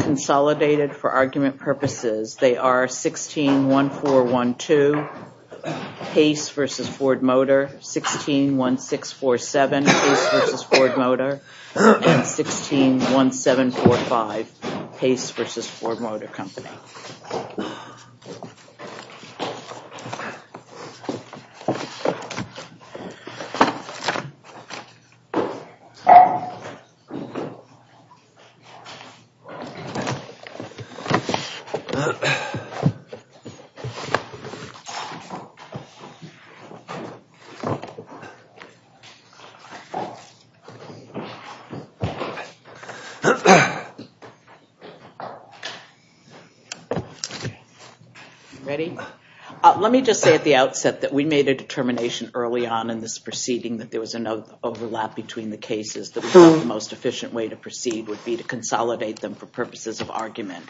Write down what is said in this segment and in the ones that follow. consolidated for argument purposes. They are 161412 Pace v. Ford Motor, 161647 Pace v. Ford Motor, and 161745 Pace v. Ford Motor Company. Let me just say at the outset that we made a determination early on in this proceeding that there was an overlap between the cases. The most efficient way to proceed would be to consolidate them for purposes of argument.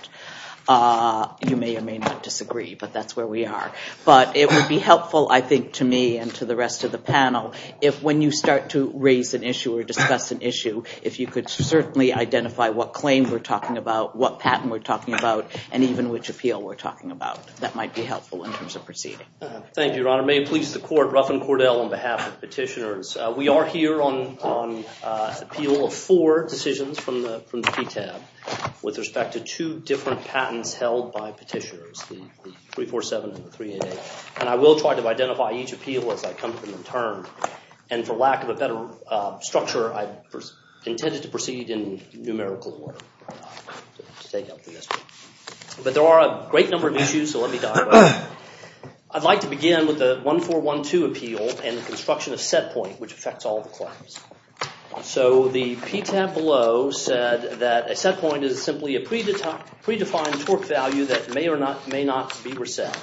You may or may not disagree, but that's where we are. But it would be helpful, I think, to me and to the rest of the panel, if when you start to raise an issue or discuss an issue, if you could certainly identify what claim we're talking about, what patent we're talking about, and even which appeal we're talking about. That might be helpful in terms of proceeding. Thank you, Your Honor. May it please the court, Ruffin Cordell on behalf of petitioners. We are here on appeal of four decisions from the PTAB with respect to two different patents held by petitioners, the 347 and the 388. And I will try to identify each appeal as I come to them in turn. And for lack of a better structure, I intended to proceed in numerical order. But there are a great number of issues, so let me dive in. I'd like to begin with the 1412 appeal and the construction of set point, which affects all the claims. So the PTAB below said that a set point is simply a predefined torque value that may or not may not be reset.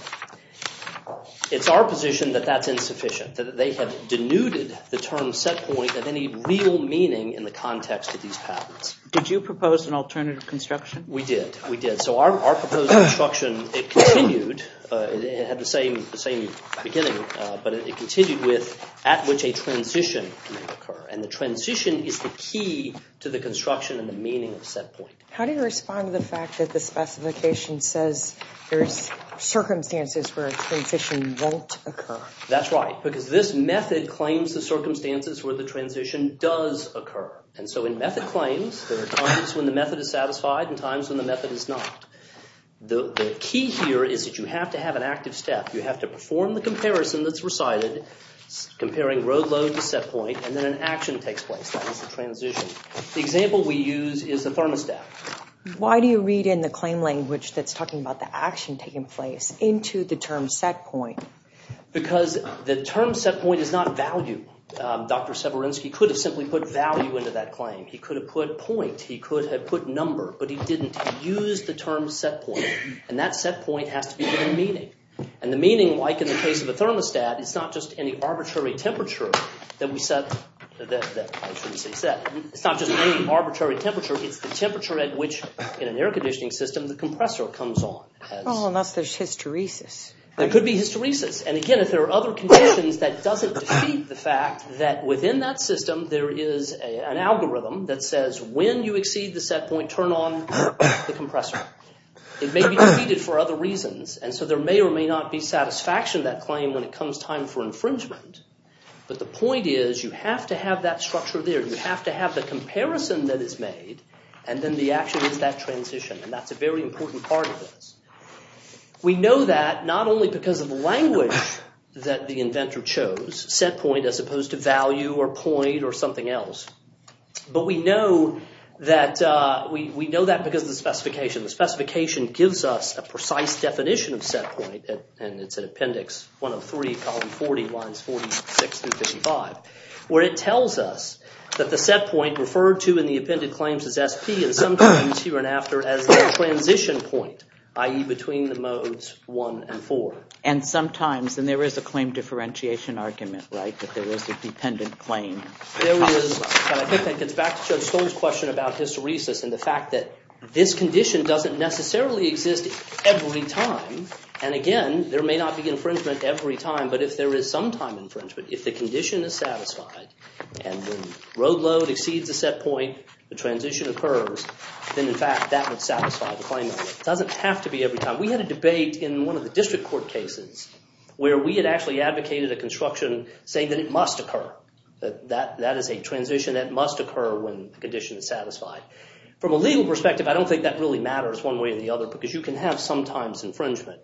It's our position that that's insufficient, that they have denuded the term set point of any real meaning in the context of these patents. Did you propose an alternative construction? We did, we did. So our proposed construction, it continued, it had the same beginning, but it continued with at which a transition can occur. And the transition is the key to the construction and the meaning of set point. How do you respond to the fact that the specification says there's circumstances where a transition won't occur? That's right, because this method claims the circumstances where the transition does occur. And so in method claims, there are times when the method is satisfied and times when the method is not. The key here is that you have to have an active step. You have to perform the comparison that's recited, comparing road load to set point, and then an action takes place. That is the transition. The example we use is the thermostat. Why do you read in the claim language that's talking about the action taking place into the term set point? Because the term set point is not value. Dr. Severinsky could have simply put value into that claim. He could have put point, he could have put number, but he didn't. He used the term set point, and that set point has to be given a meaning. And the meaning, like in the case of a thermostat, it's not just any arbitrary temperature that we set. It's not just any arbitrary temperature, it's the temperature at which, in an air conditioning system, the compressor comes on. Unless there's hysteresis. There could be hysteresis, and again, if there are other conditions that doesn't defeat the fact that within that time frame, you have to turn on the compressor. It may be defeated for other reasons, and so there may or may not be satisfaction that claim when it comes time for infringement. But the point is, you have to have that structure there. You have to have the comparison that is made, and then the action is that transition, and that's a very important part of this. We know that not only because of the language that the inventor chose, set point as opposed to value, or point, or something else. But we know that because of the specification. The specification gives us a precise definition of set point, and it's an appendix, 103, column 40, lines 46 through 55, where it tells us that the set point referred to in the appended claims is SP, and sometimes here and after as the transition point, i.e. between the modes 1 and 4. And sometimes, and there is a claim differentiation argument, right, that there is a dependent claim. It's back to Judge Stoll's question about hysteresis, and the fact that this condition doesn't necessarily exist every time. And again, there may not be infringement every time, but if there is some time infringement, if the condition is satisfied, and the road load exceeds the set point, the transition occurs, then in fact, that would satisfy the claim. It doesn't have to be every time. We had a case where we actually advocated a construction, saying that it must occur. That is a transition that must occur when the condition is satisfied. From a legal perspective, I don't think that really matters one way or the other, because you can have sometimes infringement.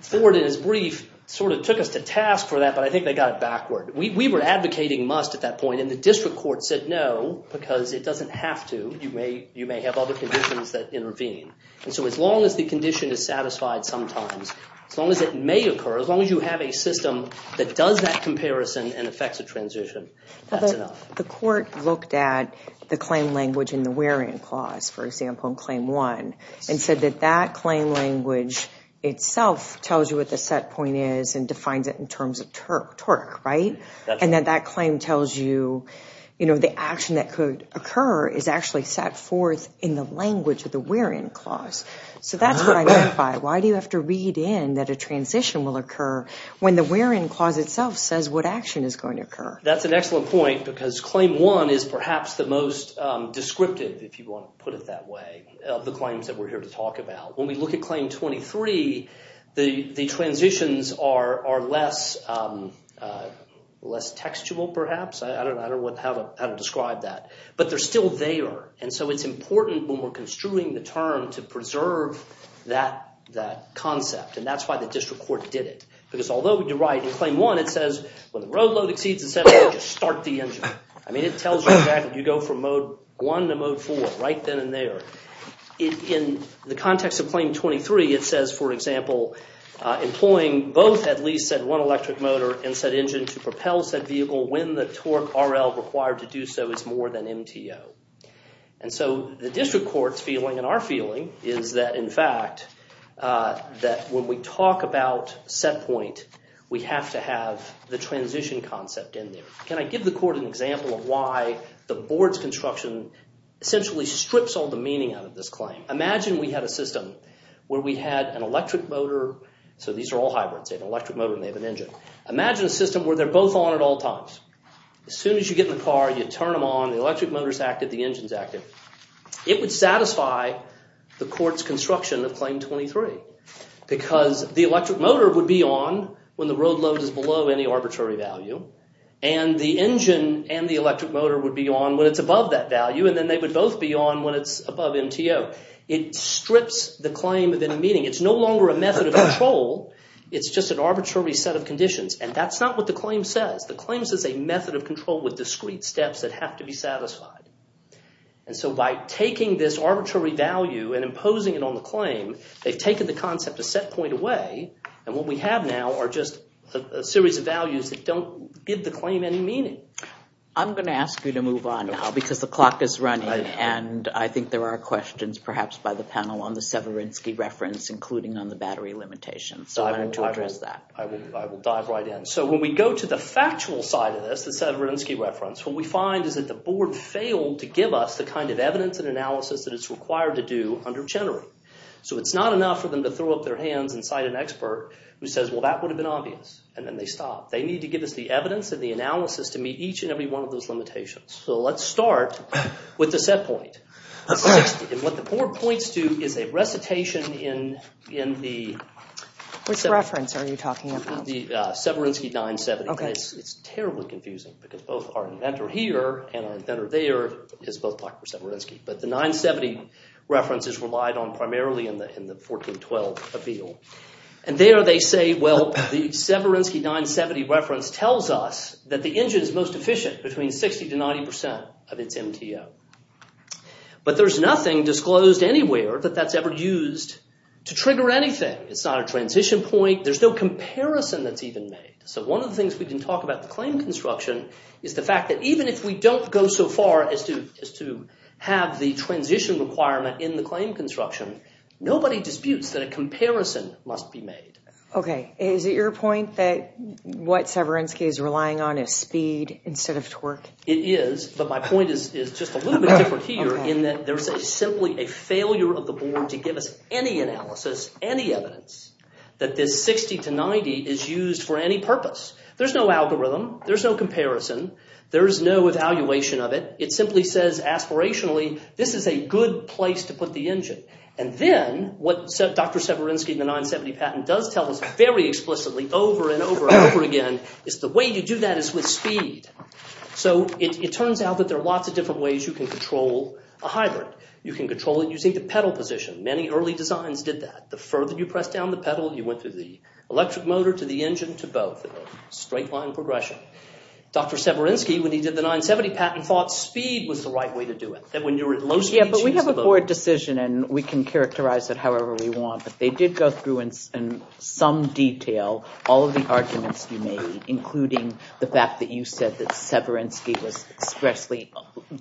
Ford, in his brief, sort of took us to task for that, but I think they got it backward. We were advocating must at that point, and the district court said no, because it doesn't have to. You may have other conditions that intervene. And so as long as the condition is satisfied sometimes, as long as it may occur, as long as you have a system that does that comparison and affects a transition, that's enough. The court looked at the claim language in the wear-in clause, for example, in Claim 1, and said that that claim language itself tells you what the set point is and defines it in terms of torque, right? And that that claim tells you, you know, the action that could occur is actually set forth in the language of the wear-in clause. So that's what I mean by, why do you have to read in that a when the wear-in clause itself says what action is going to occur? That's an excellent point, because Claim 1 is perhaps the most descriptive, if you want to put it that way, of the claims that we're here to talk about. When we look at Claim 23, the transitions are less textual, perhaps. I don't know how to describe that. But they're still there, and so it's important when we're construing the term to preserve that concept, and that's why the district court did it. Because although you're right, in Claim 1, it says when the road load exceeds a set engine, start the engine. I mean, it tells you that you go from mode 1 to mode 4, right then and there. In the context of Claim 23, it says, for example, employing both at least said one electric motor and said engine to propel said vehicle when the torque RL required to do so is more than MTO. And so the district court's feeling, and our feeling, is that in fact, that when we talk about set point, we have to have the transition concept in there. Can I give the court an example of why the board's construction essentially strips all the meaning out of this claim? Imagine we had a system where we had an electric motor, so these are all hybrids, they have an electric motor and they have an engine. Imagine a system where they're both on at all times. As soon as you get in the car, you turn them on, the electric motor is active, the board's construction of Claim 23. Because the electric motor would be on when the road load is below any arbitrary value, and the engine and the electric motor would be on when it's above that value, and then they would both be on when it's above MTO. It strips the claim of any meaning. It's no longer a method of control, it's just an arbitrary set of conditions. And that's not what the claim says. The claim says a method of control with discrete steps that have to be on the claim. They've taken the concept a set point away and what we have now are just a series of values that don't give the claim any meaning. I'm going to ask you to move on now because the clock is running and I think there are questions perhaps by the panel on the Severinsky reference, including on the battery limitations. So I'm going to address that. I will dive right in. So when we go to the factual side of this, the Severinsky reference, what we find is that the board failed to give us the kind of evidence and analysis that it's required to do under Chenery. So it's not enough for them to throw up their hands and cite an expert who says, well that would have been obvious, and then they stop. They need to give us the evidence and the analysis to meet each and every one of those limitations. So let's start with the set point. And what the board points to is a recitation in the Severinsky 970. It's terribly confusing because both our inventor here and our inventor there is both talking about Severinsky. But the 970 reference is relied on primarily in the 1412 appeal. And there they say, well the Severinsky 970 reference tells us that the engine is most efficient between 60 to 90 percent of its MTO. But there's nothing disclosed anywhere that that's ever used to trigger anything. It's not a transition point. There's no comparison that's even made. So one of the things we can talk about the claim construction is the fact that even if we don't go so far as to have the transition requirement in the claim construction, nobody disputes that a comparison must be made. Okay, is it your point that what Severinsky is relying on is speed instead of torque? It is, but my point is just a little bit different here in that there's simply a failure of the board to give us any analysis, any evidence, that this 60 to 90 is used for any purpose. There's no algorithm. There's no comparison. There's no evaluation of it. It simply says aspirationally this is a good place to put the engine. And then what Dr. Severinsky in the 970 patent does tell us very explicitly over and over and over again is the way you do that is with speed. So it turns out that there are lots of different ways you can control a hybrid. You can control it using the pedal position. Many early designs did that. The further you press down the pedal, you went through the electric motor to the engine to both. A straight line progression. Dr. Severinsky when he did the 970 patent thought speed was the right way to do it. Yeah, but we have a board decision and we can characterize it however we want, but they did go through in some detail all of the arguments you made including the fact that you said that Severinsky was expressly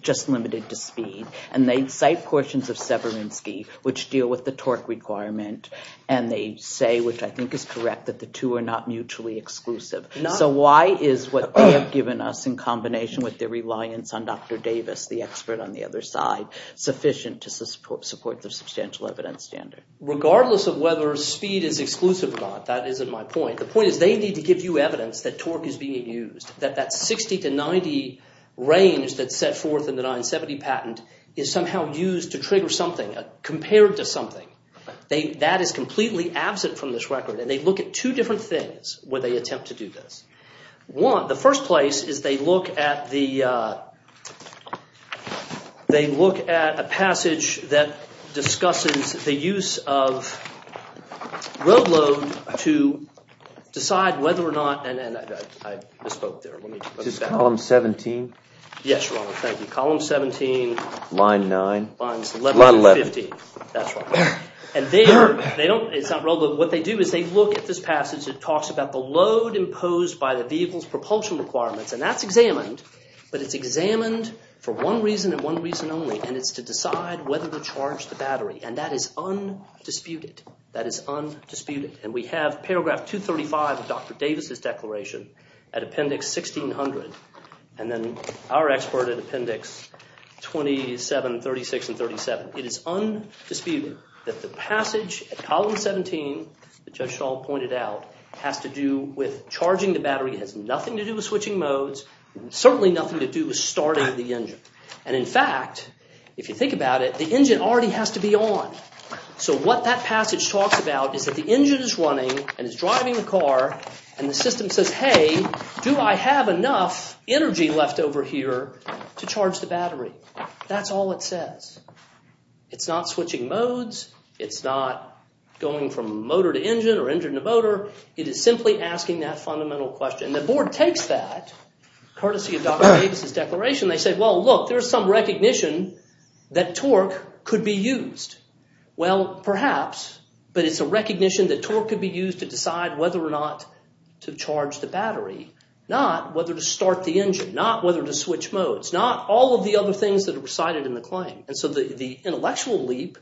just limited to speed. And they cite portions of Severinsky which deal with the torque requirement and they say, which I think is correct, that the two are not mutually exclusive. So why is what they have given us in combination with their reliance on Dr. Davis, the expert on the other side, sufficient to support the substantial evidence standard? Regardless of whether speed is exclusive or not, that isn't my point. The point is they need to give you evidence that torque is being used. That that 60 to 90 range that's set forth in the 970 patent is somehow used to trigger something, compared to something. That is completely absent from this record. And they look at two different things where they attempt to do this. One, the first place is they look at a passage that discusses the use of road load to decide whether or not, and I misspoke there, let me look at that. Is this column 17? Yes, Your Honor, thank you. Column 17, line 9, line 11. And they don't, it's not road load, what they do is they look at this passage that talks about the load imposed by the vehicle's propulsion requirements. And that's examined, but it's examined for one reason and one reason only, and it's to decide whether to charge the battery. And that is undisputed. That is undisputed. And we have paragraph 235 of Dr. Davis's declaration at Appendix 1600, and then our expert at Appendix 27, 36, and 37. It is undisputed that the passage, column 17, that Judge Shaw pointed out, has to do with charging the battery. It has nothing to do with switching modes, certainly nothing to do with starting the engine. And in fact, if you think about it, the engine already has to be on. So what that passage talks about is that the engine is running and is driving the car, and the system says, hey, do I have enough energy left over here to charge the battery? That's all it says. It's not switching modes, it's not going from motor to engine or engine to motor. It is simply asking that fundamental question. The board takes that, courtesy of Dr. Davis's declaration. They say, well, look, there's some recognition that torque could be used. Well, perhaps, but it's a recognition that torque could be used to decide whether or not to charge the battery, not whether to start the engine, not whether to switch modes, not all of the other things that are recited in the claim. And so the intellectual leap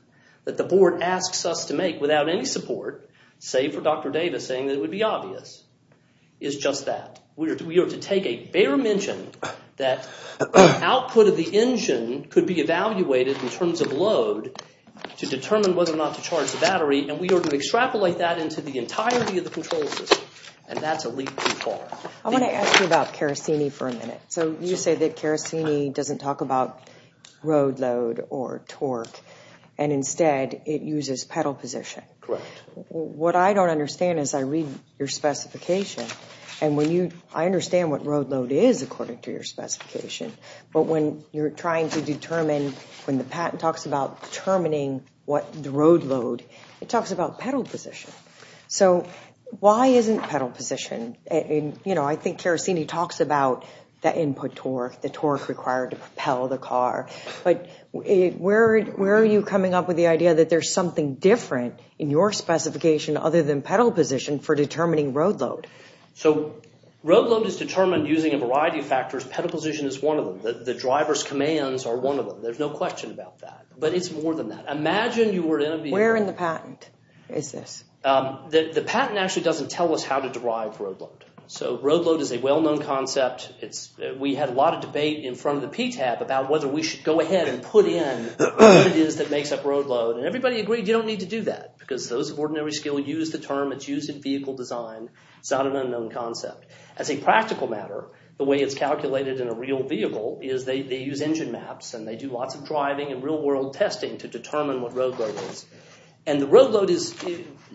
that the board asks us to make without any support, save for Dr. Davis saying that it would be obvious, is just that. We are to take a bare mention that output of the engine could be evaluated in terms of load to determine whether or not to charge the battery, and we are to extrapolate that into the entirety of the control system. And that's a leap too far. I want to ask you about Karasini for a and instead it uses pedal position. Correct. What I don't understand as I read your specification, and when you, I understand what road load is according to your specification, but when you're trying to determine, when the patent talks about determining what the road load, it talks about pedal position. So why isn't pedal position, and you know, I think Karasini talks about that input torque, the torque required to propel the car, but where are you coming up with the idea that there's something different in your specification other than pedal position for determining road load? So road load is determined using a variety of factors. Pedal position is one of them. The driver's commands are one of them. There's no question about that, but it's more than that. Imagine you were in a vehicle... Where in the patent is this? The patent actually doesn't tell us how to do that. There's a lot of debate in front of the PTAB about whether we should go ahead and put in what it is that makes up road load, and everybody agreed you don't need to do that, because those of ordinary skill use the term. It's used in vehicle design. It's not an unknown concept. As a practical matter, the way it's calculated in a real vehicle is they use engine maps, and they do lots of driving and real-world testing to determine what road load is, and the road load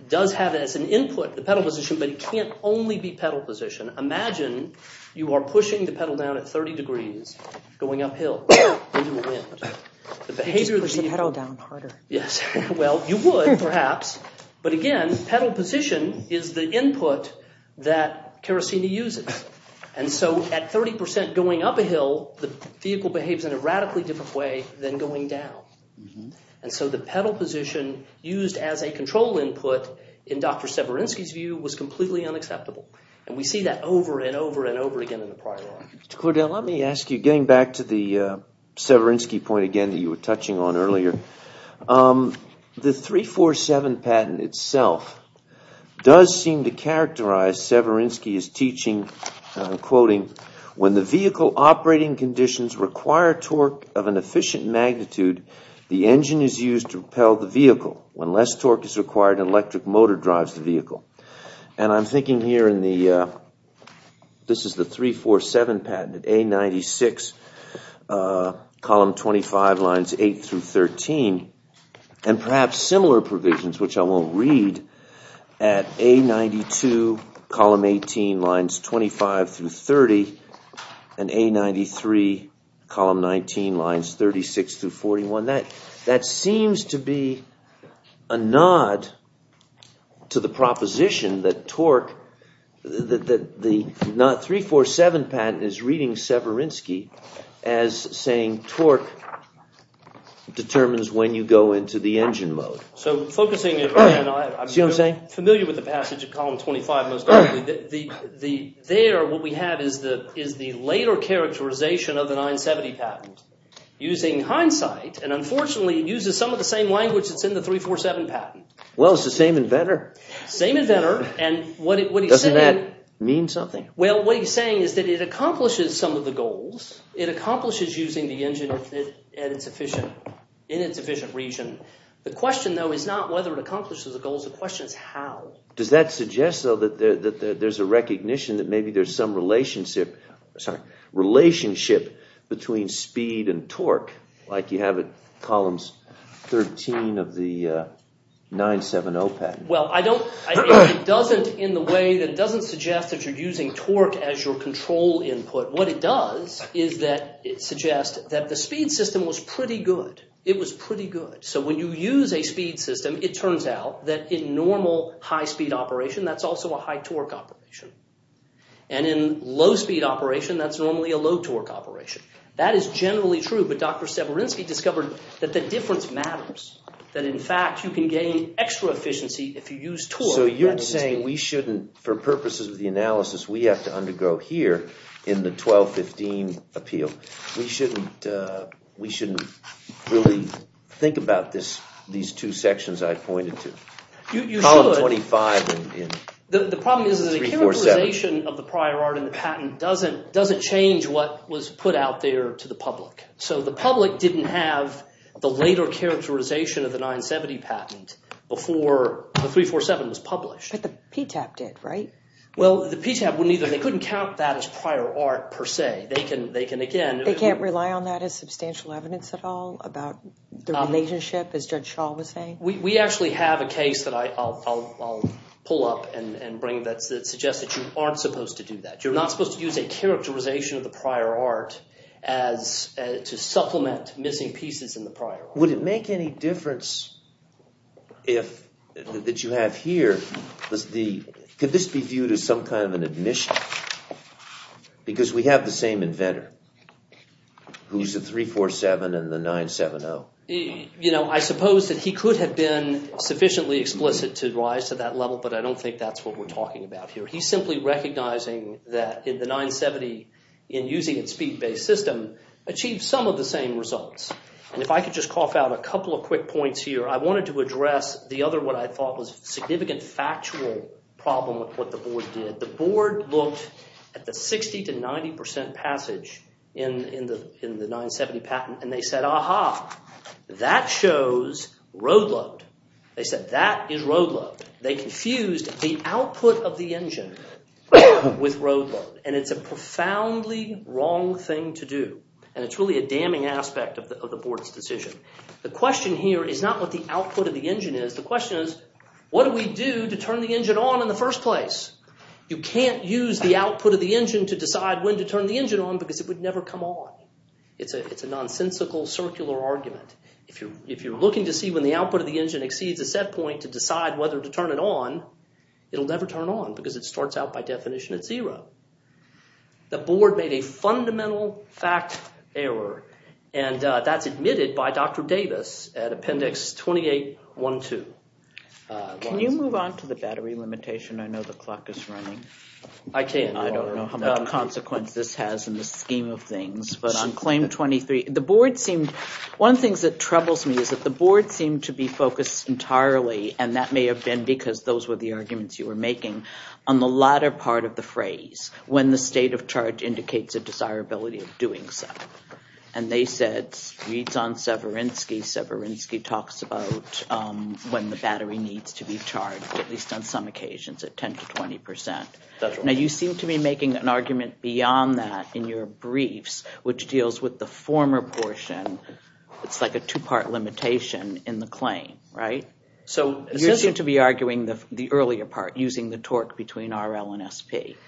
does have as an input the pedal position, but it can't only be pedal position. Imagine you are pushing the pedal down at 30 degrees, going uphill, into a wind. You'd push the pedal down harder. Yes, well, you would perhaps, but again pedal position is the input that Kerasini uses, and so at 30% going up a hill, the vehicle behaves in a radically different way than going down, and so the pedal position used as a control input, in Dr. Severinsky's view, was completely unacceptable, and we see that over and over and over again in the prior article. Mr. Cordell, let me ask you, getting back to the Severinsky point again that you were touching on earlier, the 347 patent itself does seem to characterize Severinsky's teaching, quoting, when the vehicle operating conditions require torque of an efficient magnitude, the engine is used to propel the vehicle. When less torque is required, an electric motor drives the vehicle, and I'm thinking here in the, this is the 347 patent, A96, column 25, lines 8 through 13, and perhaps similar provisions, which I won't read, at A92, column 18, lines 25 through 30, and A93, column 19, lines 36 through 41, that seems to be a nod to the proposition that torque, that the 347 patent is reading Severinsky as saying torque determines when you go into the engine mode. So, focusing, I'm familiar with the passage of column 25, most likely, there what we have is the later characterization of the patent. In hindsight, and unfortunately, it uses some of the same language that's in the 347 patent. Well, it's the same inventor. Same inventor, and what he's saying... Doesn't that mean something? Well, what he's saying is that it accomplishes some of the goals. It accomplishes using the engine in its efficient region. The question, though, is not whether it accomplishes the goals, the question is how. Does that suggest, though, that there's a recognition that maybe there's some relationship between speed and torque, like you have it columns 13 of the 970 patent? Well, I don't, it doesn't in the way that doesn't suggest that you're using torque as your control input. What it does is that it suggests that the speed system was pretty good. It was pretty good. So, when you use a speed system, it turns out that in normal high-speed operation, that's also a high-torque operation, and in low-speed operation, that's normally a low-torque operation. That is generally true, but Dr. Severinsky discovered that the difference matters. That, in fact, you can gain extra efficiency if you use torque. So, you're saying we shouldn't, for purposes of the analysis, we have to undergo here in the 1215 appeal. We shouldn't really think about these two sections I pointed to. You should. Column 25 in 347. The problem is that the characterization of the prior art in the patent doesn't change what was put out there to the public. So, the public didn't have the later characterization of the 970 patent before the 347 was published. But the PTAP did, right? Well, the PTAP wouldn't either. They couldn't count that as prior art, per se. They can, again... They can't rely on that as substantial evidence at all about the relationship, as Judge Shaw was saying? We actually have a case that I'll pull up and bring that suggests that you aren't supposed to do that. You're not supposed to use a characterization of the prior art as to supplement missing pieces in the prior. Would it make any difference if, that you have here, could this be viewed as some kind of an admission? Because we have the same inventor who's at 347 and the 970. You know, I suppose that he could have been sufficiently explicit to rise to that level, but I don't think that's what we're talking about here. He's simply recognizing that in the 970, in using its speed-based system, achieved some of the same results. And if I could just cough out a couple of quick points here. I wanted to address the other one I thought was a significant factual problem with what the board did. The board looked at the 60 to 90% passage in the 970 patent and they said, aha, that shows road load. They said that is road load. They confused the output of the engine with road load. And it's a profoundly wrong thing to do. And it's really a damning aspect of the board's decision. The question here is not what the output of the engine is. The question is, what do we do to turn the engine on in the first place? You can't use the output of the engine to decide when to turn the engine on because it would never come on. It's a it's a nonsensical circular argument. If you're if you're looking to see when the output of the engine exceeds a set point to decide whether to turn it on, it'll never turn on because it starts out by definition at zero. The board made a fundamental fact error and that's admitted by Dr. Davis at appendix 2812. Can you move on to the battery limitation? I know the clock is running. I can't. I don't know how much consequence this has in the scheme of things. But on claim 23, the board seemed, one of the things that troubles me is that the board seemed to be focused entirely, and that may have been because those were the arguments you were making, on the latter part of the phrase, when the state of charge indicates a desirability of doing so. And they said, reads on Severinsky, Severinsky talks about when the battery needs to be charged, at least on some occasions, at 10 to 20 percent. Now you seem to be making an argument beyond that in your briefs, which deals with the former portion. It's like a two-part limitation in the claim, right? So you seem to be arguing the earlier part, using the torque between RL and SP.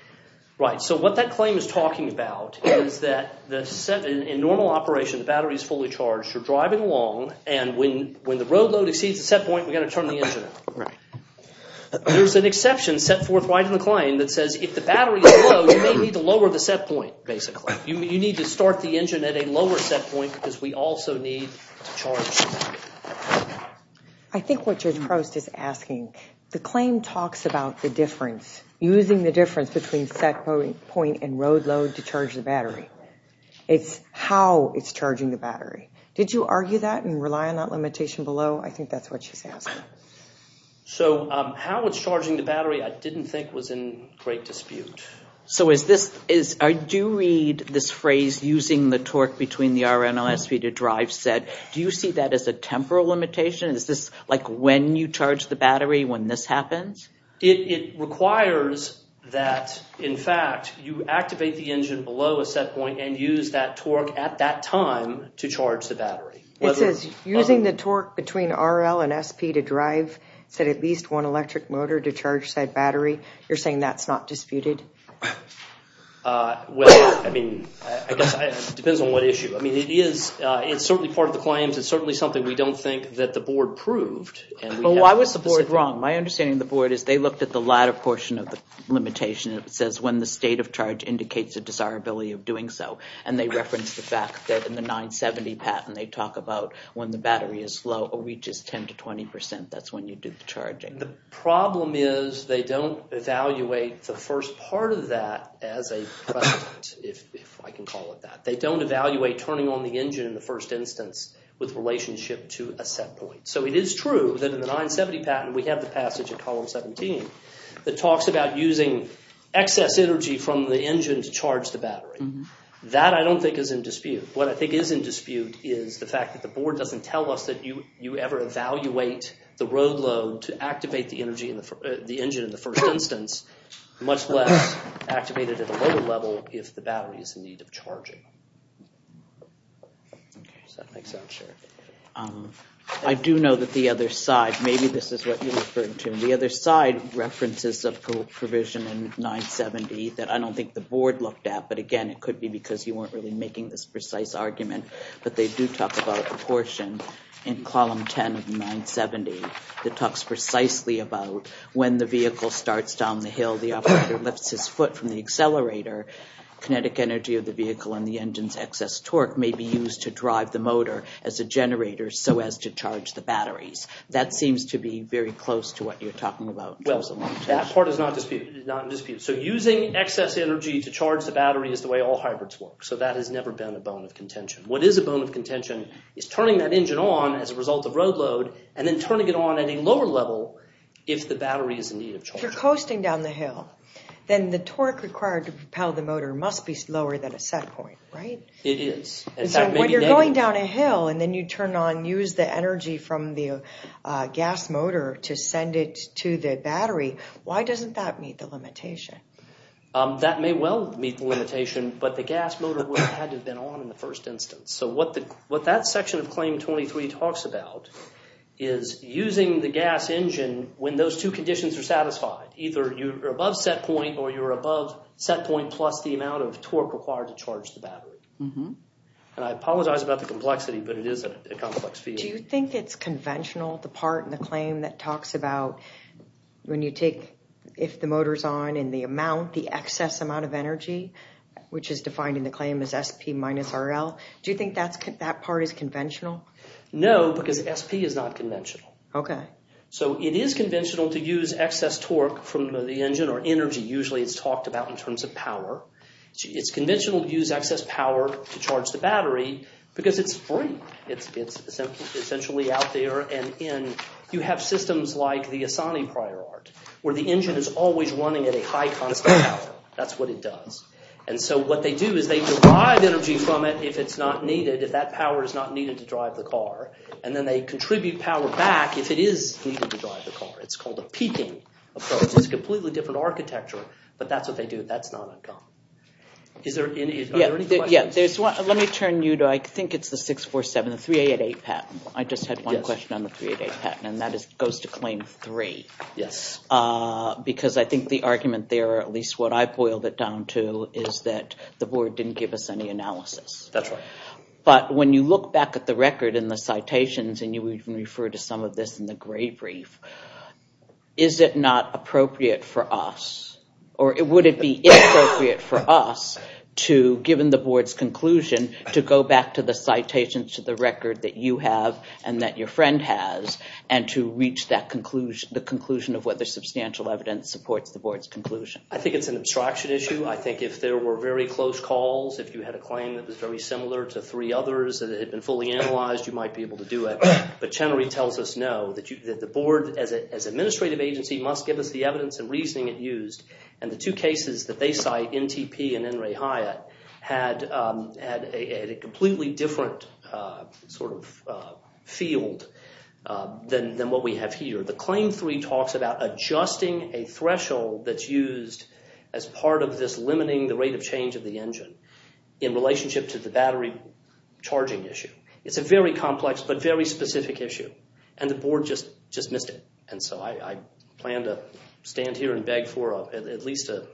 Right, so what that claim is talking about is that in normal operation, the battery is fully charged, you're driving along, and when when the road exceeds the set point, we got to turn the engine. There's an exception set forthright in the claim that says, if the battery is low, you may need to lower the set point, basically. You need to start the engine at a lower set point, because we also need to charge. I think what Judge Prost is asking, the claim talks about the difference, using the difference between set point and road load to charge the battery. It's how it's charging the battery. Did you argue that and rely on that limitation below? I think that's what she's asking. So how it's charging the battery, I didn't think was in great dispute. So is this, I do read this phrase, using the torque between the RL and SP to drive set. Do you see that as a temporal limitation? Is this like when you charge the battery, when this happens? It requires that, in fact, you activate the engine below a set point and use that torque at that time to charge the battery. It says, using the torque between RL and SP to drive, set at least one electric motor to charge said battery. You're saying that's not disputed? Well, I mean, it depends on what issue. I mean, it is, it's certainly part of the claims, it's certainly something we don't think that the board proved. But why was the board wrong? My understanding of the board is they looked at the latter portion of the limitation. It says, when the state of charge indicates a desirability of doing so. And they referenced the fact that in the 970 patent, they talk about when the battery is slow or reaches 10 to 20 percent, that's when you do the charging. The problem is they don't evaluate the first part of that as a precedent, if I can call it that. They don't evaluate turning on the engine in the first instance with relationship to a set point. So it is true that in the 970 patent, we have the excess energy from the engine to charge the battery. That I don't think is in dispute. What I think is in dispute is the fact that the board doesn't tell us that you ever evaluate the road load to activate the engine in the first instance, much less activate it at a lower level if the battery is in need of charging. I do know that the other side, maybe this is what you're referring to, the other side references a provision in 970 that I don't think the board looked at. But again, it could be because you weren't really making this precise argument. But they do talk about the portion in column 10 of 970 that talks precisely about when the vehicle starts down the hill, the operator lifts his foot from the accelerator, kinetic energy of the vehicle and the engine's excess torque may be used to drive the motor as a generator so as to charge the batteries. That seems to be very close to what you're talking about. Well, that part is not in dispute. So using excess energy to charge the battery is the way all hybrids work. So that has never been a bone of contention. What is a bone of contention is turning that engine on as a result of road load and then turning it on at a lower level if the battery is in need of charging. If you're coasting down the hill, then the torque required to propel the motor must be lower than a set point, right? It is. When you're going down a hill and then you turn on, use the energy from the gas motor to send it to the battery, why doesn't that meet the limitation? That may well meet the limitation, but the gas motor would have had to have been on in the first instance. So what that section of Claim 23 talks about is using the gas engine when those two conditions are satisfied. Either you're above set point or you're above set point plus the amount of torque required to charge the battery. And I apologize about the complexity, but it is a complex field. Do you think it's conventional, the part in the claim that talks about when you take, if the motor's on, and the amount, the excess amount of energy, which is defined in the claim as SP minus RL? Do you think that part is conventional? No, because SP is not conventional. Okay. So it is conventional to use excess torque from the engine or energy, usually it's talked about in terms of power. It's conventional to use excess power to charge the battery because it's free. It's essentially out there and in. You have systems like the Asani prior art, where the engine is always running at a high constant power. That's what it does. And so what they do is they derive energy from it if it's not needed, if that power is not needed to drive the car, and then they contribute power back if it is needed to drive the car. It's called a peaking approach. It's a completely different architecture, but that's what they do. Let me turn you to, I think it's the 647, the 388 patent. I just had one question on the 388 patent, and that goes to claim three. Yes. Because I think the argument there, at least what I boiled it down to, is that the board didn't give us any analysis. That's right. But when you look back at the record in the citations, and you even refer to some of this in the for us to, given the board's conclusion, to go back to the citations to the record that you have, and that your friend has, and to reach that conclusion, the conclusion of whether substantial evidence supports the board's conclusion. I think it's an abstraction issue. I think if there were very close calls, if you had a claim that was very similar to three others that had been fully analyzed, you might be able to do it. But Chenery tells us, no, that the board as an administrative agency must give us the evidence and reasoning it used. And the two cases that they cite, NTP and N. Ray Hyatt, had a completely different sort of field than what we have here. The claim three talks about adjusting a threshold that's used as part of this limiting the rate of change of the engine in relationship to the battery charging issue. It's a very complex but very specific issue, and the board just just missed it. And so I plan to stand here and beg for at least an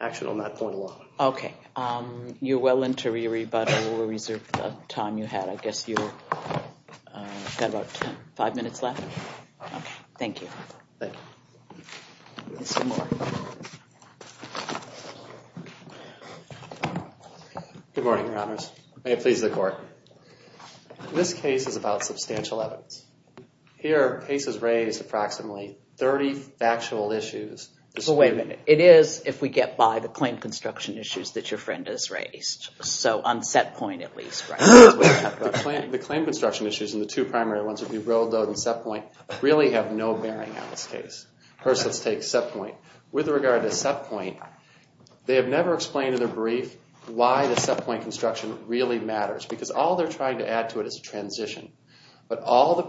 action on that point alone. Okay, you're well interviewed, but I will reserve the time you had. I guess you've got about five minutes left. Thank you. Good morning, Your Honors. May it please the Court. This case is about Wait a minute. It is, if we get by the claim construction issues that your friend has raised. So on set point at least, right? The claim construction issues in the two primary ones, if you rolled out in set point, really have no bearing on this case. First, let's take set point. With regard to set point, they have never explained in their brief why the set point construction really matters. Because all they're trying to add to it is a transition. But all the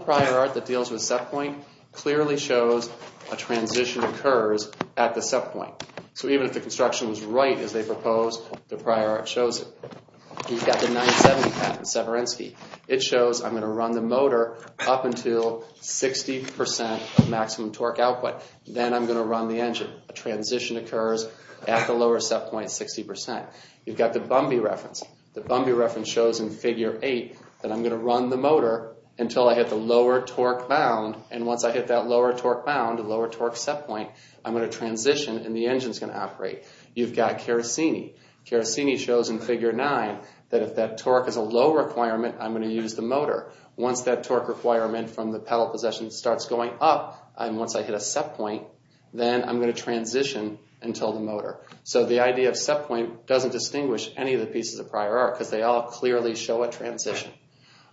transition occurs at the set point. So even if the construction was right as they proposed, the prior art shows it. You've got the 970 patent, Severinsky. It shows I'm going to run the motor up until 60% of maximum torque output. Then I'm going to run the engine. A transition occurs at the lower set point, 60%. You've got the Bumby reference. The Bumby reference shows in figure 8 that I'm going to run the motor until I hit the lower torque bound. And once I hit that lower torque bound, the lower torque set point, I'm going to transition and the engine's going to operate. You've got Carasini. Carasini shows in figure 9 that if that torque is a low requirement, I'm going to use the motor. Once that torque requirement from the pedal position starts going up, and once I hit a set point, then I'm going to transition until the motor. So the idea of set point doesn't distinguish any of the pieces of prior art because they all clearly show a transition.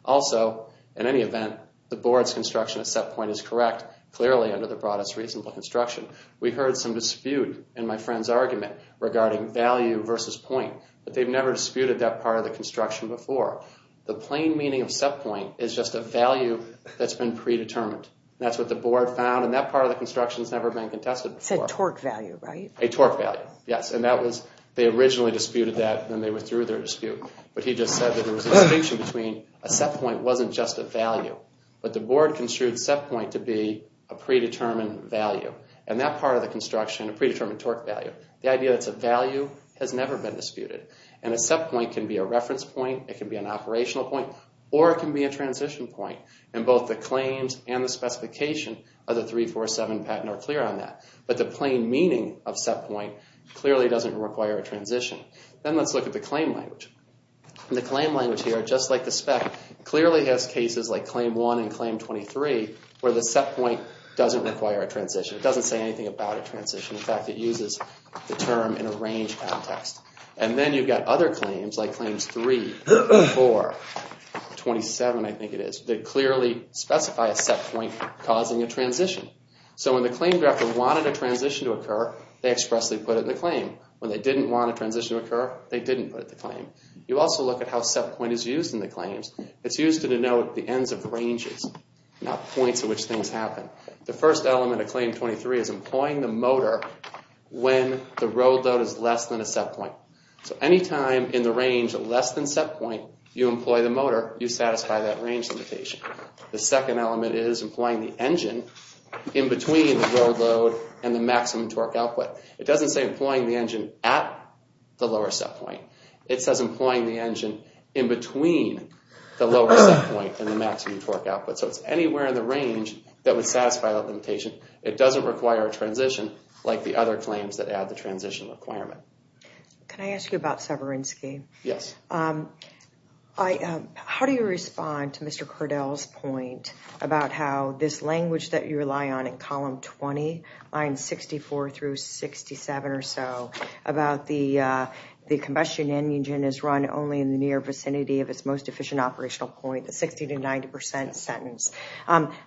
Also, in any event, the board's construction at set point is correct, clearly under the broadest reasonable construction. We heard some dispute in my friend's argument regarding value versus point, but they've never disputed that part of the construction before. The plain meaning of set point is just a value that's been predetermined. That's what the board found, and that part of the construction has never been contested. It's a torque value, right? A torque value, yes. And that was, they originally disputed that when they were through their dispute, but he just said that there was a distinction between a set point wasn't just a value, but the board construed set point to be a predetermined value, and that part of the construction, a predetermined torque value. The idea that's a value has never been disputed, and a set point can be a reference point, it can be an operational point, or it can be a transition point. And both the claims and the specification of the 347 patent are clear on that, but the plain meaning of set point clearly doesn't require a transition. Then let's look at the claim language. The claim language here, just like the spec, clearly has cases like claim 1 and claim 23, where the set point doesn't require a transition. It doesn't say anything about a transition. In fact, it uses the term in a range context. And then you've got other claims, like claims 3, 4, 27, I think it is, that clearly specify a set point causing a transition. So when the claim director wanted a transition to occur, they expressly put it in the claim. When they didn't want a transition to occur, they didn't put it in the claim. You also look at how set point is used in the claims. It's used to denote the ends of ranges, not points at which things happen. The first element of claim 23 is employing the motor when the road load is less than a set point. So anytime in the range less than set point, you employ the motor, you satisfy that range limitation. The second element is employing the engine in between the road load and the maximum torque output. It doesn't say the engine at the lower set point. It says employing the engine in between the lower set point and the maximum torque output. So it's anywhere in the range that would satisfy that limitation. It doesn't require a transition like the other claims that add the transition requirement. Can I ask you about Severinsky? Yes. How do you respond to Mr. Kurdel's point about how this about the combustion engine is run only in the near vicinity of its most efficient operational point, the 60 to 90 percent sentence.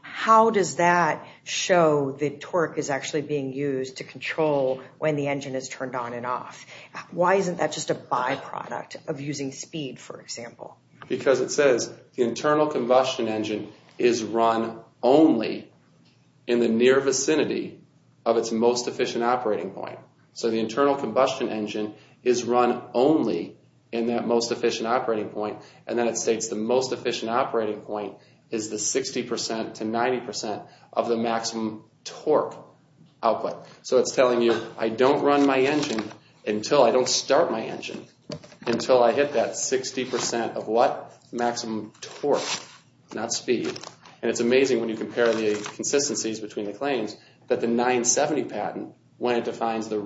How does that show the torque is actually being used to control when the engine is turned on and off? Why isn't that just a byproduct of using speed, for example? Because it says the internal combustion engine is run only in the near vicinity of its most efficient operating point. And then it states the most efficient operating point is the 60 percent to 90 percent of the maximum torque output. So it's telling you I don't run my engine until I don't start my engine, until I hit that 60 percent of what maximum torque, not speed. And it's amazing when you compare the consistencies between the claims that the 970 patent, when it defines the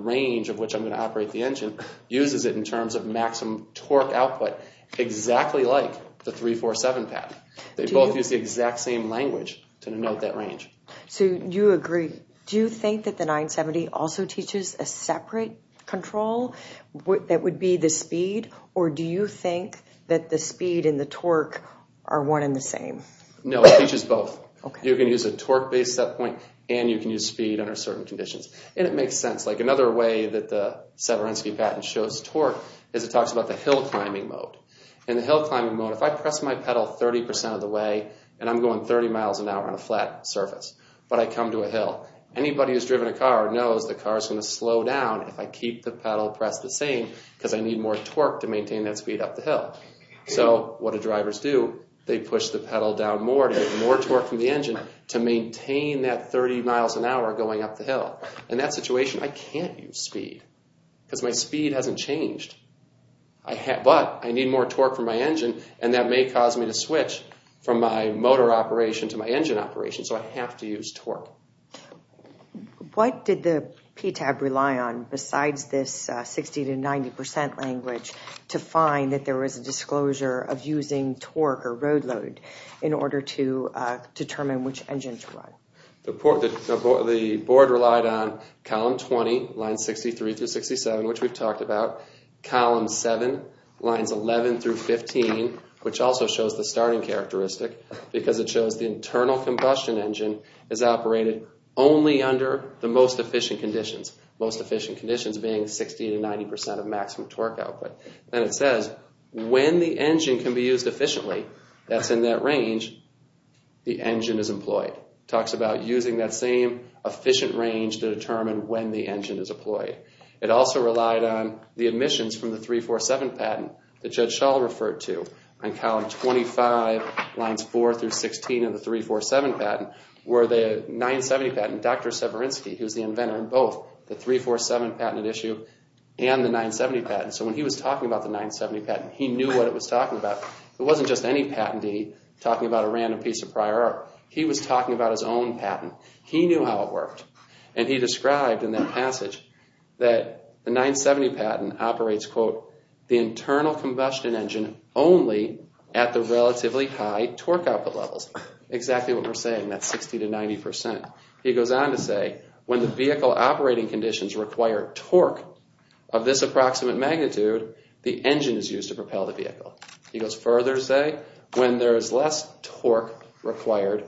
which I'm going to operate the engine, uses it in terms of maximum torque output exactly like the 347 patent. They both use the exact same language to denote that range. So you agree. Do you think that the 970 also teaches a separate control that would be the speed? Or do you think that the speed and the torque are one in the same? No, it teaches both. You can use a torque based set point and you can use speed under certain conditions. And it makes sense. Another way that the Severinsky patent shows torque is it talks about the hill climbing mode. In the hill climbing mode, if I press my pedal 30 percent of the way and I'm going 30 miles an hour on a flat surface, but I come to a hill, anybody who's driven a car knows the car is going to slow down if I keep the pedal pressed the same, because I need more torque to maintain that speed up the hill. So what do drivers do? They push the pedal down more to get more torque from the engine to maintain that 30 miles an hour going up the hill. In that situation, I can't use speed because my speed hasn't changed. But I need more torque from my engine and that may cause me to switch from my motor operation to my engine operation. So I have to use torque. What did the PTAB rely on besides this 60 to 90 percent language to find that there was a disclosure of using torque or road load in order to determine which engine to run? The board relied on column 20, lines 63 through 67, which we've talked about. Column 7, lines 11 through 15, which also shows the starting characteristic because it shows the internal combustion engine is operated only under the most efficient conditions. Most efficient conditions being 60 to 90 percent of maximum torque output. Then it says when the engine can be used efficiently, that's in that range, the engine is employed. Talks about using that same efficient range to determine when the engine is employed. It also relied on the admissions from the 347 patent that Judge Schall referred to on column 25, lines 4 through 16 of the 347 patent, where the 970 patent, Dr. Severinsky, who's the inventor in both the 347 patented issue and the 970 patent. So when he was talking about the 970 patent, he knew what it was talking about. It wasn't just any patentee talking about a random piece of prior art. He was talking about his own patent. He knew how it worked and he described in that passage that the 970 patent operates, quote, the internal combustion engine only at the relatively high torque output levels. Exactly what we're saying, that 60 to 90 percent. He goes on to say when the vehicle operating conditions require torque of this approximate magnitude, the engine is used to propel the vehicle. He goes further to say when there is less torque required,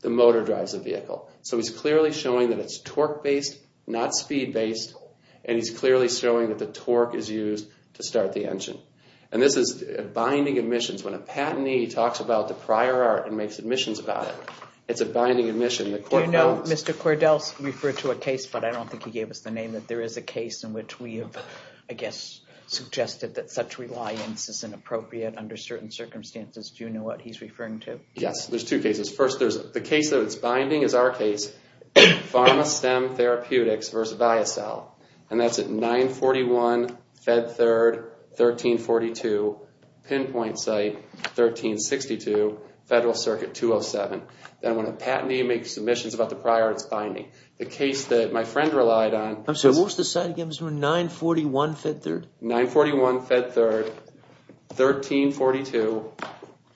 the motor drives the vehicle. So he's clearly showing that it's torque based, not speed based, and he's clearly showing that the torque is used to start the engine. And this is binding admissions. When a patentee talks about the prior art and makes admissions about it, it's a binding admission. Do you know, Mr. Cordell referred to a case, but I don't think he gave us the name, that there is a case in which we have, I guess, suggested that such reliance is inappropriate under certain circumstances. Do you know what he's referring to? Yes, there's two cases. First, there's the case that it's binding is our case, Pharma-Stem Therapeutics versus Viacel, and that's at 941 Fed Third, 1342 pinpoint site, 1362 Federal Circuit 207. Then when a patentee makes submissions about the prior art, it's binding. The case that my friend relied on... I'm sorry, what was the 1342,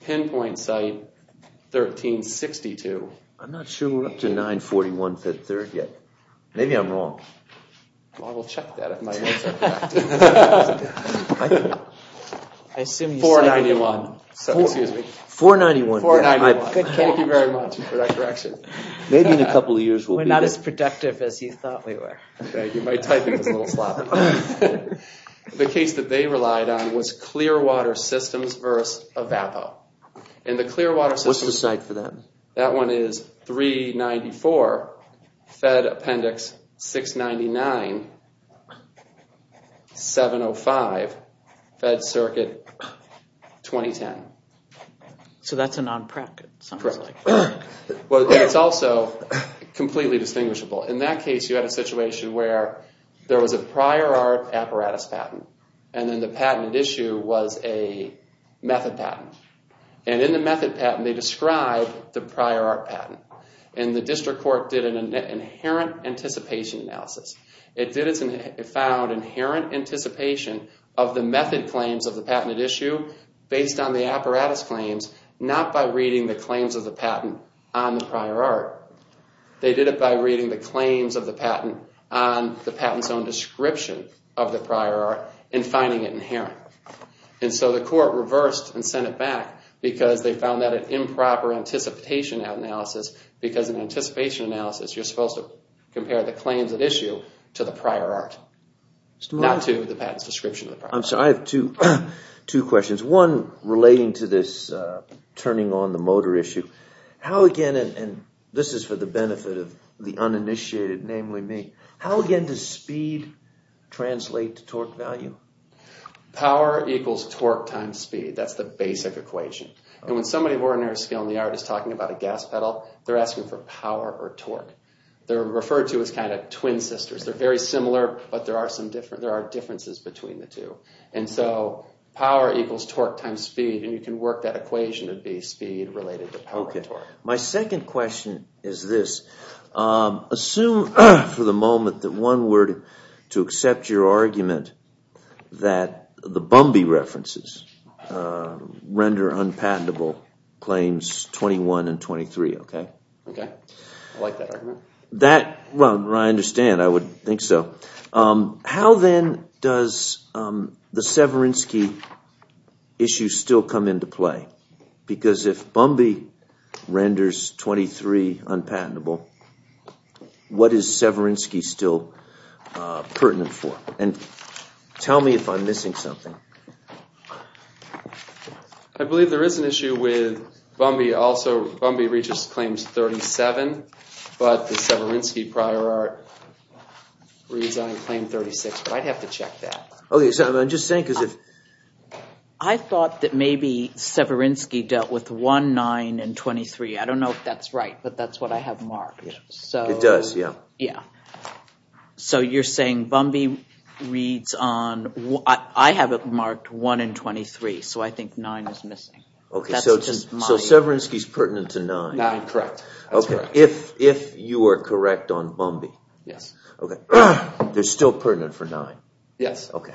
pinpoint site, 1362. I'm not sure we're up to 941 Fed Third yet. Maybe I'm wrong. I will check that if my notes are correct. I assume you said... 491. Excuse me. 491. Thank you very much for that correction. Maybe in a couple of years we'll be good. We're not as productive as you thought we were. My typing is a little sloppy. The case that they relied on was Clearwater Systems versus Avapo. What's the site for that? That one is 394 Fed Appendix 699, 705 Fed Circuit 2010. So that's a non-PREC, it sounds like. Well, it's also completely distinguishable. In that case, you had a situation where there was a prior art apparatus patent, and then the patented issue was a method patent. And in the method patent, they described the prior art patent. And the district court did an inherent anticipation analysis. It found inherent anticipation of the method claims of the patented issue based on the apparatus claims, not by reading the claims of the patent on the patent's own description of the prior art and finding it inherent. And so the court reversed and sent it back because they found that an improper anticipation analysis, because in anticipation analysis you're supposed to compare the claims at issue to the prior art, not to the patent's description of the prior art. I'm sorry, I have two questions. One relating to this uninitiated, namely me. How, again, does speed translate to torque value? Power equals torque times speed. That's the basic equation. And when somebody of ordinary skill in the art is talking about a gas pedal, they're asking for power or torque. They're referred to as kind of twin sisters. They're very similar, but there are differences between the two. And so power equals torque times speed, and you can work that equation to be related to power or torque. My second question is this. Assume for the moment that one word to accept your argument that the Bumby references render unpatentable claims 21 and 23, okay? Okay. I like that argument. That, well, I understand. I would think so. How then does the Bumby renders 23 unpatentable, what is Severinsky still pertinent for? And tell me if I'm missing something. I believe there is an issue with Bumby also, Bumby reaches claims 37, but the Severinsky prior art resigned claim 36, but I'd have to check that. I thought that maybe Severinsky dealt with 1, 9, and 23. I don't know if that's right, but that's what I have marked. It does, yeah. So you're saying Bumby reads on, I have it marked 1 and 23, so I think 9 is missing. Okay, so Severinsky is pertinent to 9. If you are correct on Bumby, they're still pertinent for 9. Yes. Okay.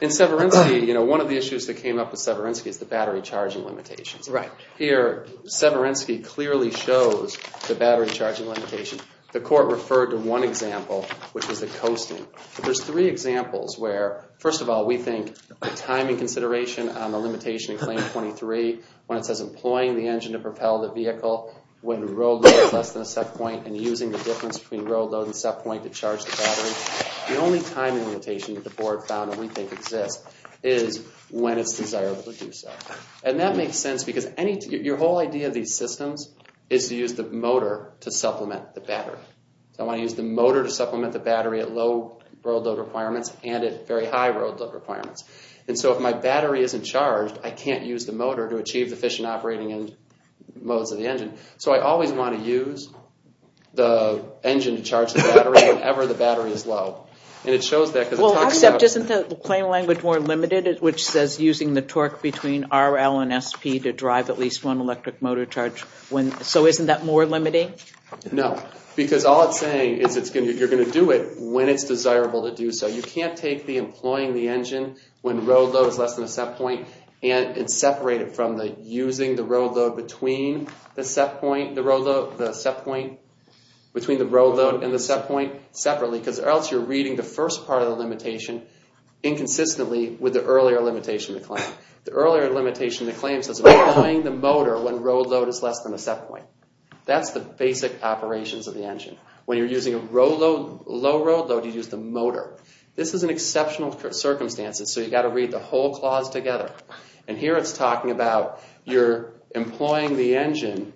In Severinsky, you know, one of the issues that came up with Severinsky is the battery charging limitations. Right. Here, Severinsky clearly shows the battery charging limitation. The court referred to one example, which was the coasting. There's three examples where, first of all, we think the timing consideration on the limitation in claim 23, when it says employing the engine to propel the vehicle when road load is less than a set point and using the difference between road load and set point to charge the battery, the only timing limitation that the board found that we think exists is when it's desirable to do so. And that makes sense because your whole idea of these systems is to use the motor to supplement the battery. So I want to use the motor to supplement the battery at low road load requirements and at very high road load requirements. And so if my battery isn't charged, I can't use the motor to achieve the efficient operating modes of the engine. So I always want to use the engine to charge the battery whenever the battery is low. And it shows that because... Well, except isn't the claim language more limited, which says using the torque between RL and SP to drive at least one electric motor charge when... So isn't that more limiting? No. Because all it's saying is you're going to do it when it's desirable to do so. You can't take the employing the engine when road load is less than a set point and separate it from the using the road load between the set point... Between the road load and the set point separately because else you're reading the first part of the limitation inconsistently with the earlier limitation to claim. The earlier limitation to claim says employing the motor when road load is less than a set point. That's the basic operations of the engine. When you're using a low road load, you use the motor. This is an exceptional circumstances, so you've got to read the whole clause together. And here it's talking about you're employing the engine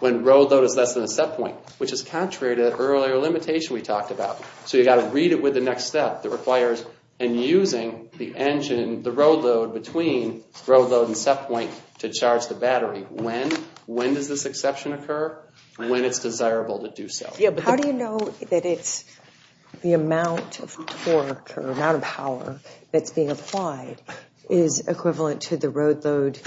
when road load is less than a set point, which is contrary to the earlier limitation we talked about. So you've got to read it with the next step that requires and using the engine, the road load between road load and set point to charge the battery when... When does this exception occur? When it's desirable to do so. Yeah, but how do you know that it's the amount of torque or amount of power that's being applied is equivalent to the road load,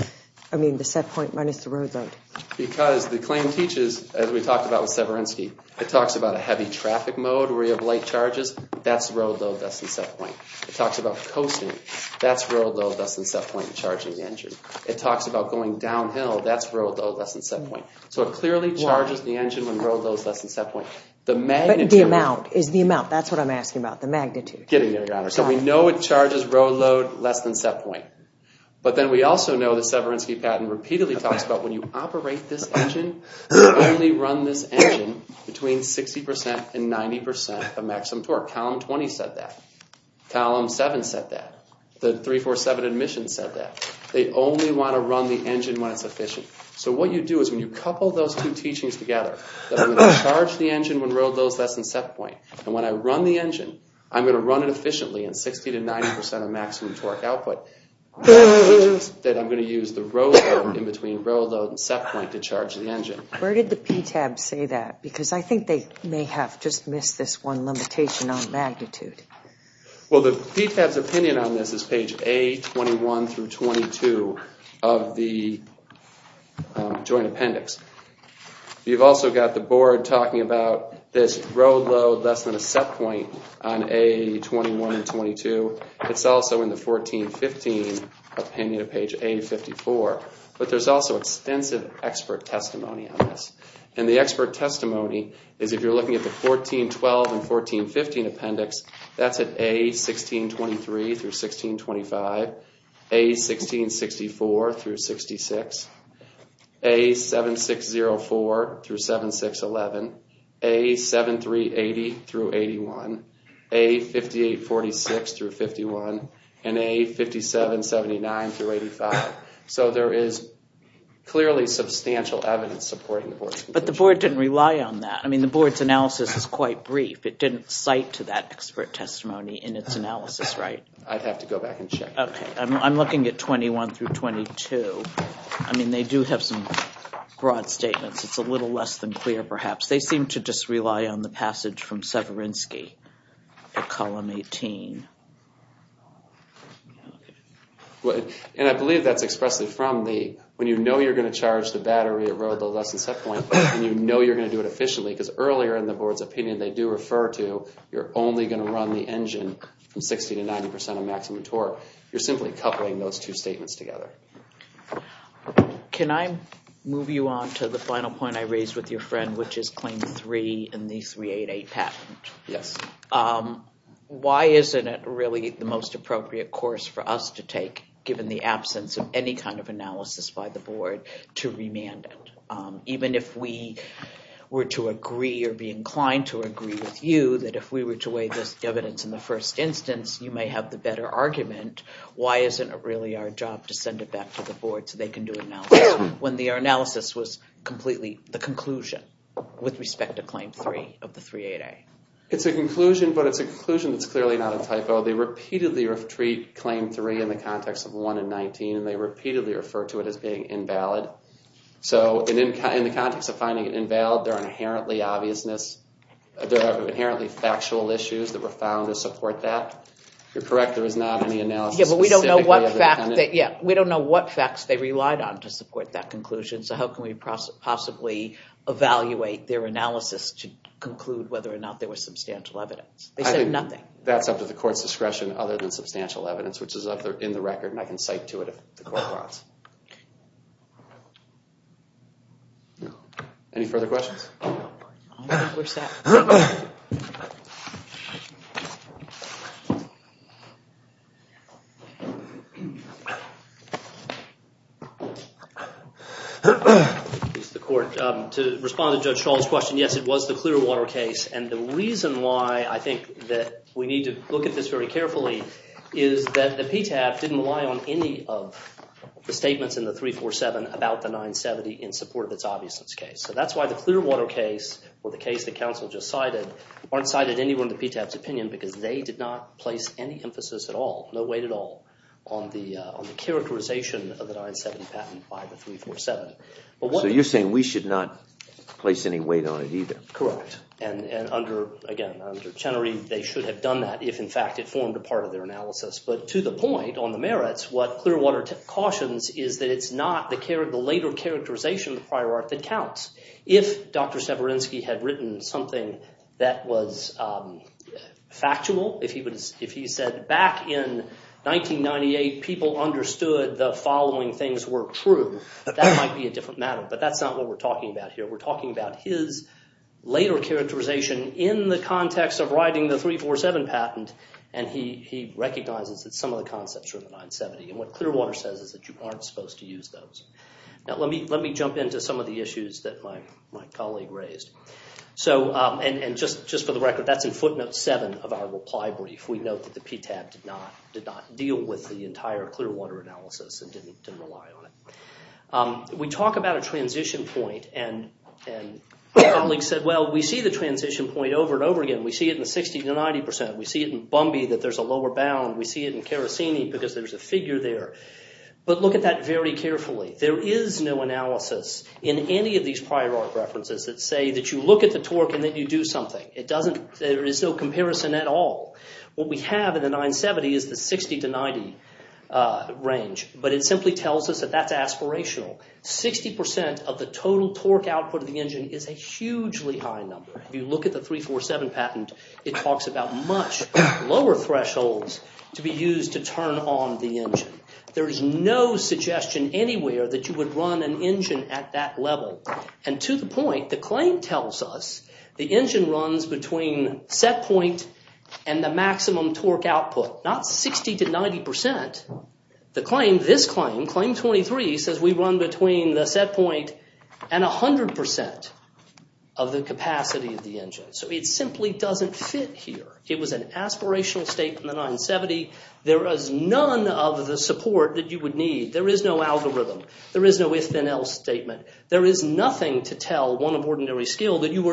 I mean the set point minus the road load? Because the claim teaches, as we talked about with Severinsky, it talks about a heavy traffic mode where you have light charges, that's road load, that's the set point. It talks about coasting, that's road load, that's the set point charging the engine. It talks about going downhill, that's road load, that's the set point. So it clearly charges the engine when road load is less than a set point. The magnitude... The amount is the amount, that's I'm asking about, the magnitude. Getting there, Your Honor. So we know it charges road load less than set point. But then we also know that Severinsky patent repeatedly talks about when you operate this engine, only run this engine between 60 percent and 90 percent of maximum torque. Column 20 said that. Column 7 said that. The 347 admission said that. They only want to run the engine when it's efficient. So what you do is when you couple those two teachings together, that I'm going to charge the engine when road load is less than set point. And when I run the engine, I'm going to run it efficiently in 60 to 90 percent of maximum torque output. That I'm going to use the road load in between road load and set point to charge the engine. Where did the PTAB say that? Because I think they may have just missed this one limitation on magnitude. Well, the PTAB's opinion on this is page A21 through 22 of the Appendix. You've also got the board talking about this road load less than a set point on A21 and 22. It's also in the 1415 opinion of page A54. But there's also extensive expert testimony on this. And the expert testimony is if you're looking at the 1412 and 1415 Appendix, that's at A1623 through 1625, A1664 through 66, A7604 through 7611, A7380 through 81, A5846 through 51, and A5779 through 85. So there is clearly substantial evidence supporting the board's conclusion. But the board didn't rely on that. I mean, the board's analysis is quite brief. It I'd have to go back and check. Okay, I'm looking at 21 through 22. I mean, they do have some broad statements. It's a little less than clear, perhaps. They seem to just rely on the passage from Severinsky at column 18. And I believe that's expressly from the, when you know you're going to charge the battery at road load less than set point, and you know you're going to do it efficiently, because earlier in the board's opinion, they do refer to you're only going to run the engine from 60 to 90 percent of maximum torque. You're simply coupling those two statements together. Can I move you on to the final point I raised with your friend, which is Claim 3 and the 388 patent? Yes. Why isn't it really the most appropriate course for us to take, given the absence of any kind of analysis by the board, to remand it? Even if we were to agree or you may have the better argument, why isn't it really our job to send it back to the board so they can do analysis when the analysis was completely the conclusion with respect to Claim 3 of the 388? It's a conclusion, but it's a conclusion that's clearly not a typo. They repeatedly treat Claim 3 in the context of 1 and 19, and they repeatedly refer to it as being invalid. So in the context of finding it invalid, there are inherently obviousness, there are inherently factual issues that were found to support that. You're correct, there is not any analysis. We don't know what facts they relied on to support that conclusion, so how can we possibly evaluate their analysis to conclude whether or not there was substantial evidence? They said nothing. That's up to the court's discretion other than substantial evidence, which is up there in the record, and I can cite to it if the court wants. Okay. Any further questions? I don't think we're set. It's the court. To respond to Judge Schall's question, yes, it was the Clearwater case, and the reason why I think that we need to look at this very carefully is that the PTAB didn't rely on any of the statements in the 347 about the 970 in support of its obviousness case. So that's why the Clearwater case, or the case that counsel just cited, aren't cited anywhere in the PTAB's opinion because they did not place any emphasis at all, no weight at all, on the characterization of the 970 patent by the 347. So you're saying we should not place any weight on it either? Correct. And again, under Chenery, they should have done that if in fact it formed a part of their analysis. But to the point on the merits, what Clearwater cautions is that it's not the later characterization of the prior art that counts. If Dr. Severinsky had written something that was factual, if he said back in 1998 people understood the following things were true, that might be a different matter. But that's not what we're talking about here. We're talking about his later characterization in the context of writing the 347 patent, and he recognizes that some of the concepts from the 970, and what Clearwater says is that you aren't supposed to use those. Now let me jump into some of the issues that my colleague raised. So, and just for the record, that's in footnote seven of our reply brief. We note that the PTAB did not deal with the entire Clearwater analysis and didn't rely on it. We talk about a transition point and my colleague said, well, we see the transition point over and over again. We see it in the 60 to 90 percent. We see it in Bumby that there's a lower bound. We see it in Karasini because there's a figure there. But look at that very carefully. There is no analysis in any of these prior art references that say that you look at the torque and that you do something. It doesn't, there is no comparison at all. What we have in the 970 is the 60 to 90 range, but it simply tells us that that's aspirational. Sixty percent of the total torque output of the engine is a hugely high number. If you look at the 347 patent, it talks about much lower thresholds to be used to turn on the engine. There is no suggestion anywhere that you would run an engine at that level. And to the point, the claim tells us the engine runs between set point and the maximum torque output, not 60 to 90 percent. The claim, this claim, claim 23, says we run between the set point and 100 percent of the capacity of the engine. So it simply doesn't fit here. It was an aspirational statement in the 970. There is none of the support that you would need. There is no algorithm. There is no if-then-else statement. There is nothing to tell one of ordinary skill that you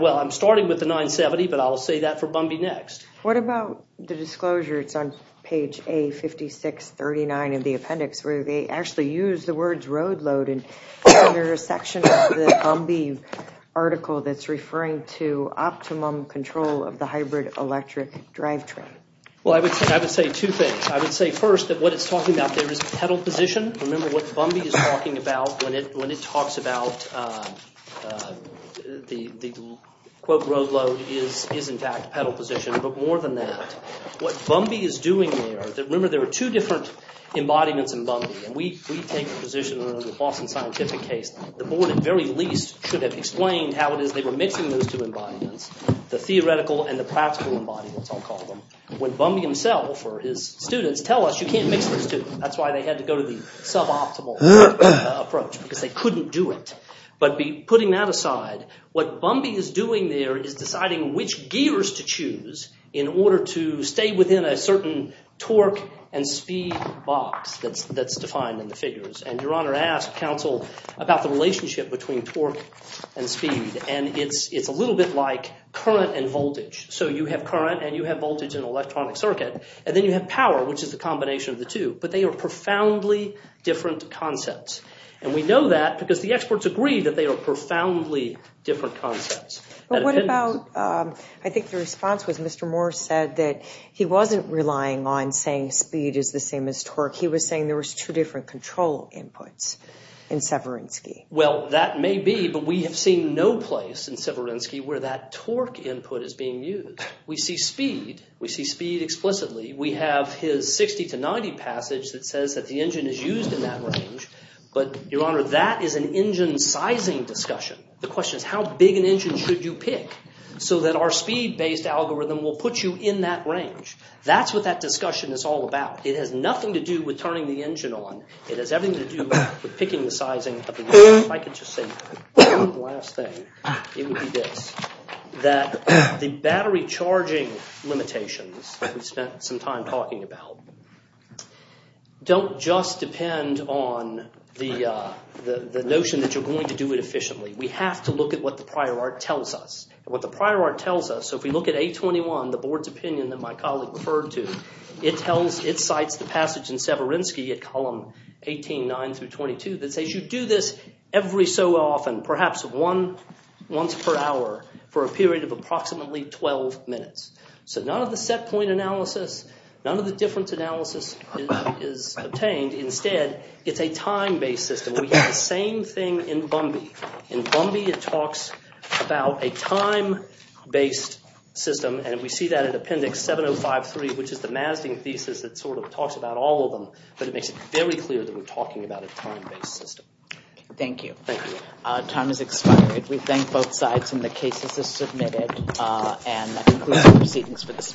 Well, I'm starting with the 970, but I'll say that for Bumby next. What about the disclosure, it's on page A5639 of the appendix, where they actually use the words road load and there's a section of the Bumby article that's referring to optimum control of the hybrid electric drivetrain. Well, I would say two things. I would say first that what it's talking about there is pedal position. Remember what Bumby is talking about when it talks about the quote road load is in fact pedal position. But more than that, what Bumby is doing there, remember there are two different embodiments in Bumby and we take the position of the Boston scientific case. The board at very least should have explained how it is they were mixing those two embodiments, the theoretical and the practical embodiments I'll call them. When Bumby himself or his students tell us you can't mix those two, that's why they had to go to the suboptimal approach because they couldn't do it. But putting that aside, what Bumby is doing there is deciding which gears to choose in order to stay within a certain torque and speed box that's defined in the figures. And your honor asked counsel about the relationship between torque and speed and it's a little bit like current and voltage. So you have current and you have voltage and electronic circuit and then you have power, which is the combination of the two, but they are profoundly different concepts. And we know that because the experts agree that they are profoundly different concepts. What about, I think the response was Mr. Moore said that he wasn't relying on saying speed is the same as torque. He was saying there was two different control inputs in Severinsky. Well that may be, but we have seen no place in Severinsky where that torque input is being used. We see speed, we see speed explicitly. We have his 60 to 90 passage that says that the engine is used in that range, but your honor that is an engine sizing discussion. The question is how big an engine should you pick so that our speed based algorithm will put you in that range. That's what that discussion is all about. It has nothing to do with turning the engine on. It has everything to do with picking the sizing of the unit. If I could just say one last thing, it would be this. That the battery charging limitations we've spent some time talking about don't just depend on the notion that you're going to do it efficiently. We have to look at what the prior art tells us. What the prior art tells us, so if we look at 821, the board's opinion that my colleague referred to, it tells, it cites the passage in Severinsky at column 18.9 through 22 that says you do this every so often, perhaps one once per hour for a period of approximately 12 minutes. So none of the set point analysis, none of the difference analysis is obtained. Instead, it's a time-based system. We have the same thing in Bumby. In Bumby it talks about a time-based system and we see that in appendix 7053, which is the Mazding thesis that sort of talks about all of them, but it makes it very clear that we're talking about a time-based system. Thank you. Our time has expired. We thank both sides and the cases are submitted and that concludes the proceedings for this morning.